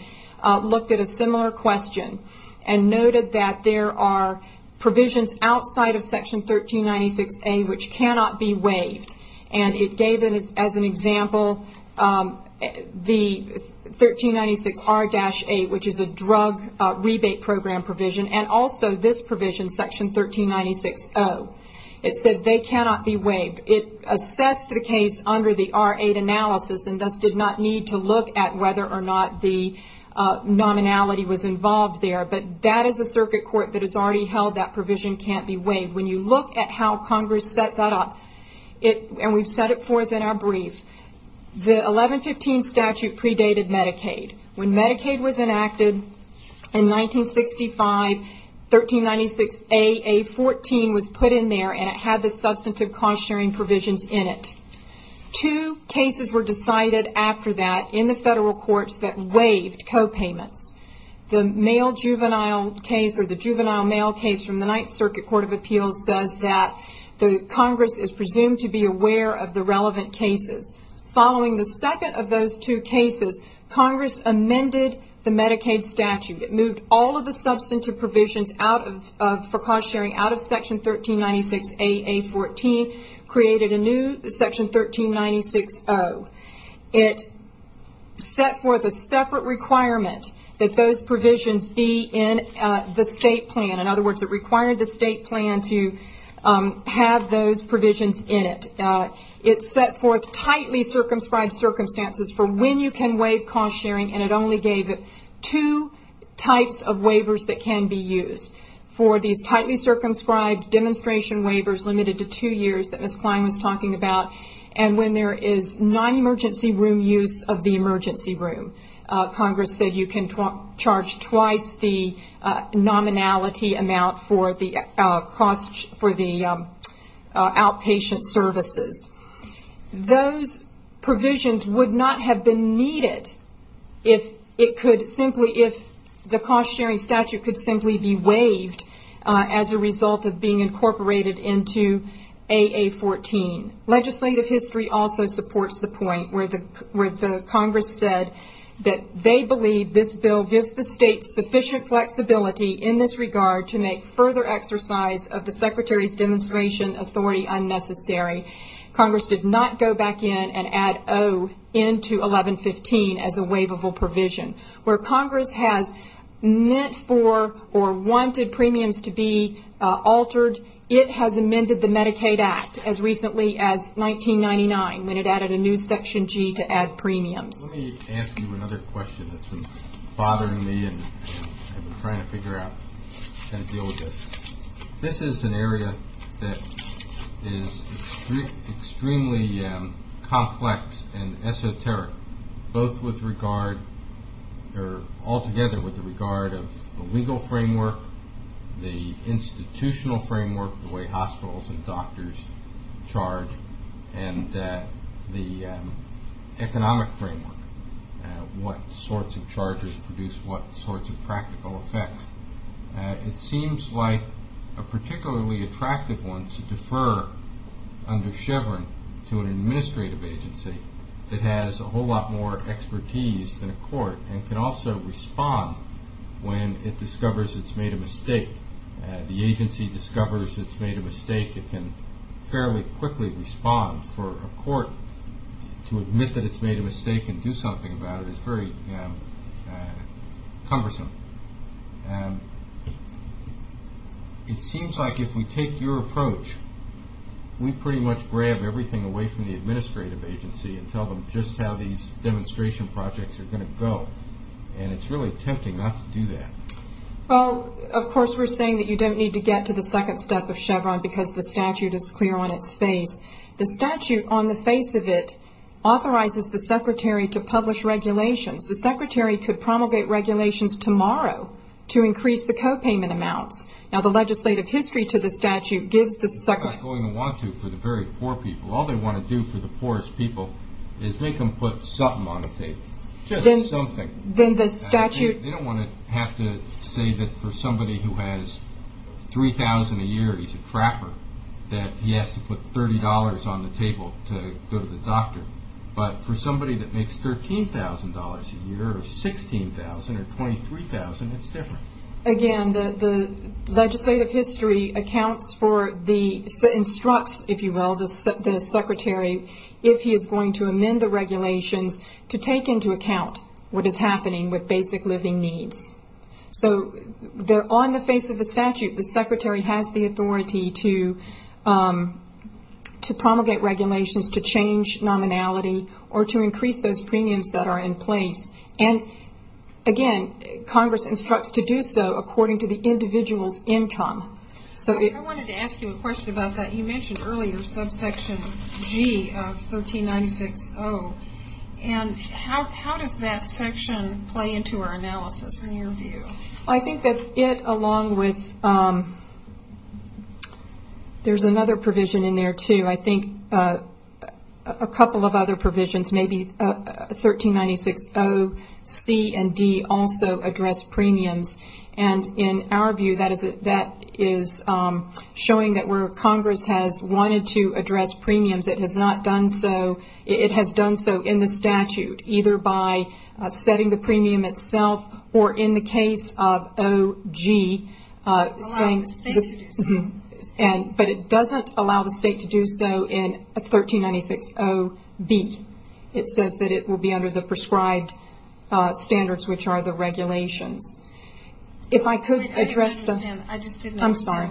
looked at a similar question and noted that there are provisions outside of section 1396 A which cannot be waived and it gave as an example the 1396 R-8 which is a drug rebate program provision and also this provision in section 1396 O it said they cannot be waived it assessed the case under the R-8 analysis and thus did not need to look at whether or not the nominality was involved there but that is a circuit court that has already held that provision can't be waived when you look at how congress set that up and we've set it forth in our brief the 1115 statute predated Medicaid. When Medicaid was enacted in 1965 1396 AA14 was put in there and it had the substantive cost sharing provisions in it two cases were decided after that in the federal courts that waived copayments the male juvenile case or the juvenile male case from the 9th circuit court of appeals says that the congress is presumed to be aware of the relevant cases. Following the second of those two cases, congress amended the Medicaid statute it moved all of the substantive provisions for cost sharing out of section 1396 AA14 created a new section 1396 O it set forth a separate requirement that those provisions be in the state plan. In other words it required the state plan to have those provisions in it it set forth tightly circumscribed circumstances for when you can waive cost sharing and it only gave it two types of waivers that can be used for these tightly circumscribed demonstration waivers limited to two years that Ms. Klein was talking about and when there is non-emergency room use of the emergency room. Congress said you can charge twice the nominality amount for the cost for the outpatient services. Those provisions would not have been needed if the cost sharing statute could simply be waived as a result of being incorporated into AA14. Legislative history also supports the point where the congress said that they believe this bill gives the state sufficient flexibility in this regard to make further exercise of the secretary's demonstration authority unnecessary. Congress did not go back in and add O into 1115 as a waivable provision. Where congress has meant for or wanted premiums to be altered it has amended the Medicaid Act as recently as 1999 when it added a new section G to add premiums. Let me ask you another question that's been bothering me and I've been trying to figure out how to deal with this. This is an area that is extremely complex and esoteric both with regard or altogether with the regard of the legal framework the institutional framework the way hospitals and doctors charge and the economic framework what sorts of charges produce what sorts of practical effects. It seems like a particularly attractive one to defer under Chevron to an administrative agency that has a whole lot more expertise than a court and can also respond when it discovers it's made a mistake. The agency discovers it's made a mistake it can fairly quickly respond for a court to admit that it's made a mistake and do something about it is very cumbersome. It seems like if we take your approach we pretty much grab everything away from the administrative agency and tell them just how these demonstration projects are going to go and it's really tempting not to do that. Well of course we're saying that you don't need to get to the second step of Chevron because the statute is clear on its face. The statute on the face of it authorizes the secretary to publish regulations. The secretary could promulgate regulations tomorrow to increase the copayment amounts. Now the legislative history to the statute gives the secretary... It's not going to want to for the very poor people. All they want to do for the poorest people is make them put something on the table. Just something. Then the statute... They don't want to have to say that for somebody who has $3,000 a year he's a trapper that he has to put $30 on the table to go to the doctor. But for somebody that makes $13,000 a year or $16,000 or $23,000 it's different. Again, the legislative history accounts for the... instructs, if you will, the secretary if he is going to amend the regulations to take into account what is happening with basic living needs. On the face of the statute the secretary has the authority to promulgate regulations to change nominality or to increase those premiums that are in place. Again, Congress instructs to do so according to the individual's income. I wanted to ask you a question about that. You mentioned earlier subsection G of 1396-0. How does that section play into our analysis in your view? I think that it along with... There's another provision in there too. I think a couple of other provisions maybe 1396-0 C and D also address premiums and in our view that is showing that where Congress has wanted to address premiums it has not done so. It has done so in the statute either by setting the premium itself or in the case of O.G. allowing the state to do so. But it doesn't allow the state to do so in 1396-0-B. It says that it will be under the prescribed standards which are the regulations. If I could address the... I'm sorry.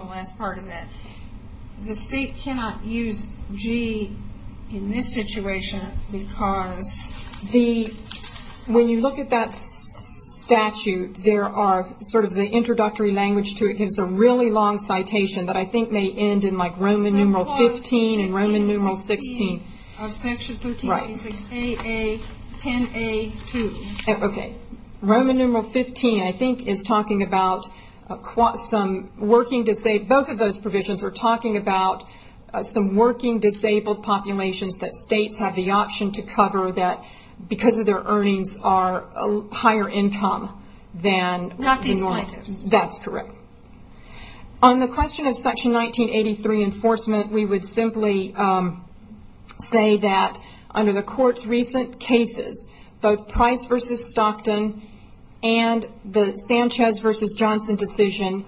The state cannot use G in this situation because when you look at that statute there are sort of the introductory language to it gives a really long citation that I think may end in like Roman numeral 15 and Roman numeral 16. Roman numeral 15 I think is talking about both of those provisions are talking about some working disabled populations that states have the option to cover that because of their earnings are higher income than... That's correct. On the question of section 1983 enforcement we would simply say that under the court's recent cases both Price v. Stockton and the Sanchez v. Johnson decision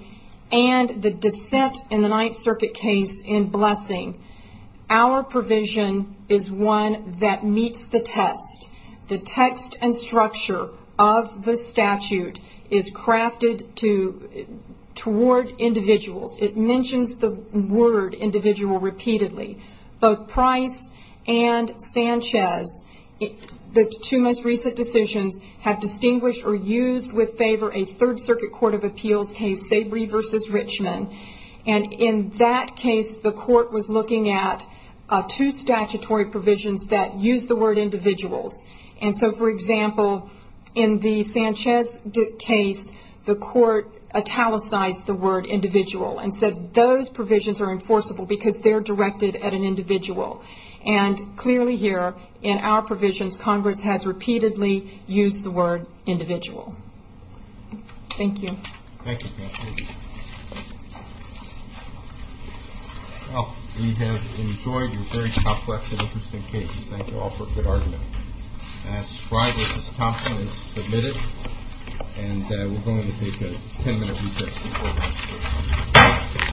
and the dissent in the Ninth Circuit case in Blessing our provision is one that meets the test. The text and structure of the statute is crafted to toward individuals. It mentions the word individual repeatedly. Both Price and Sanchez the two most recent decisions have distinguished or used with favor a Third Circuit Court of Appeals case Sabry v. Richmond and in that case the court was looking at two statutory provisions that use the word individuals and so for example in the Sanchez case the court italicized the word individual and said those provisions are enforceable because they're directed at an individual and clearly here in our provisions Congress has repeatedly used the word individual. Thank you. Thank you. Well, we have enjoyed your very complex and interesting case. Thank you all for a good argument. Price v. Stockton is submitted and we're going to take a 10 minute recess before we move on.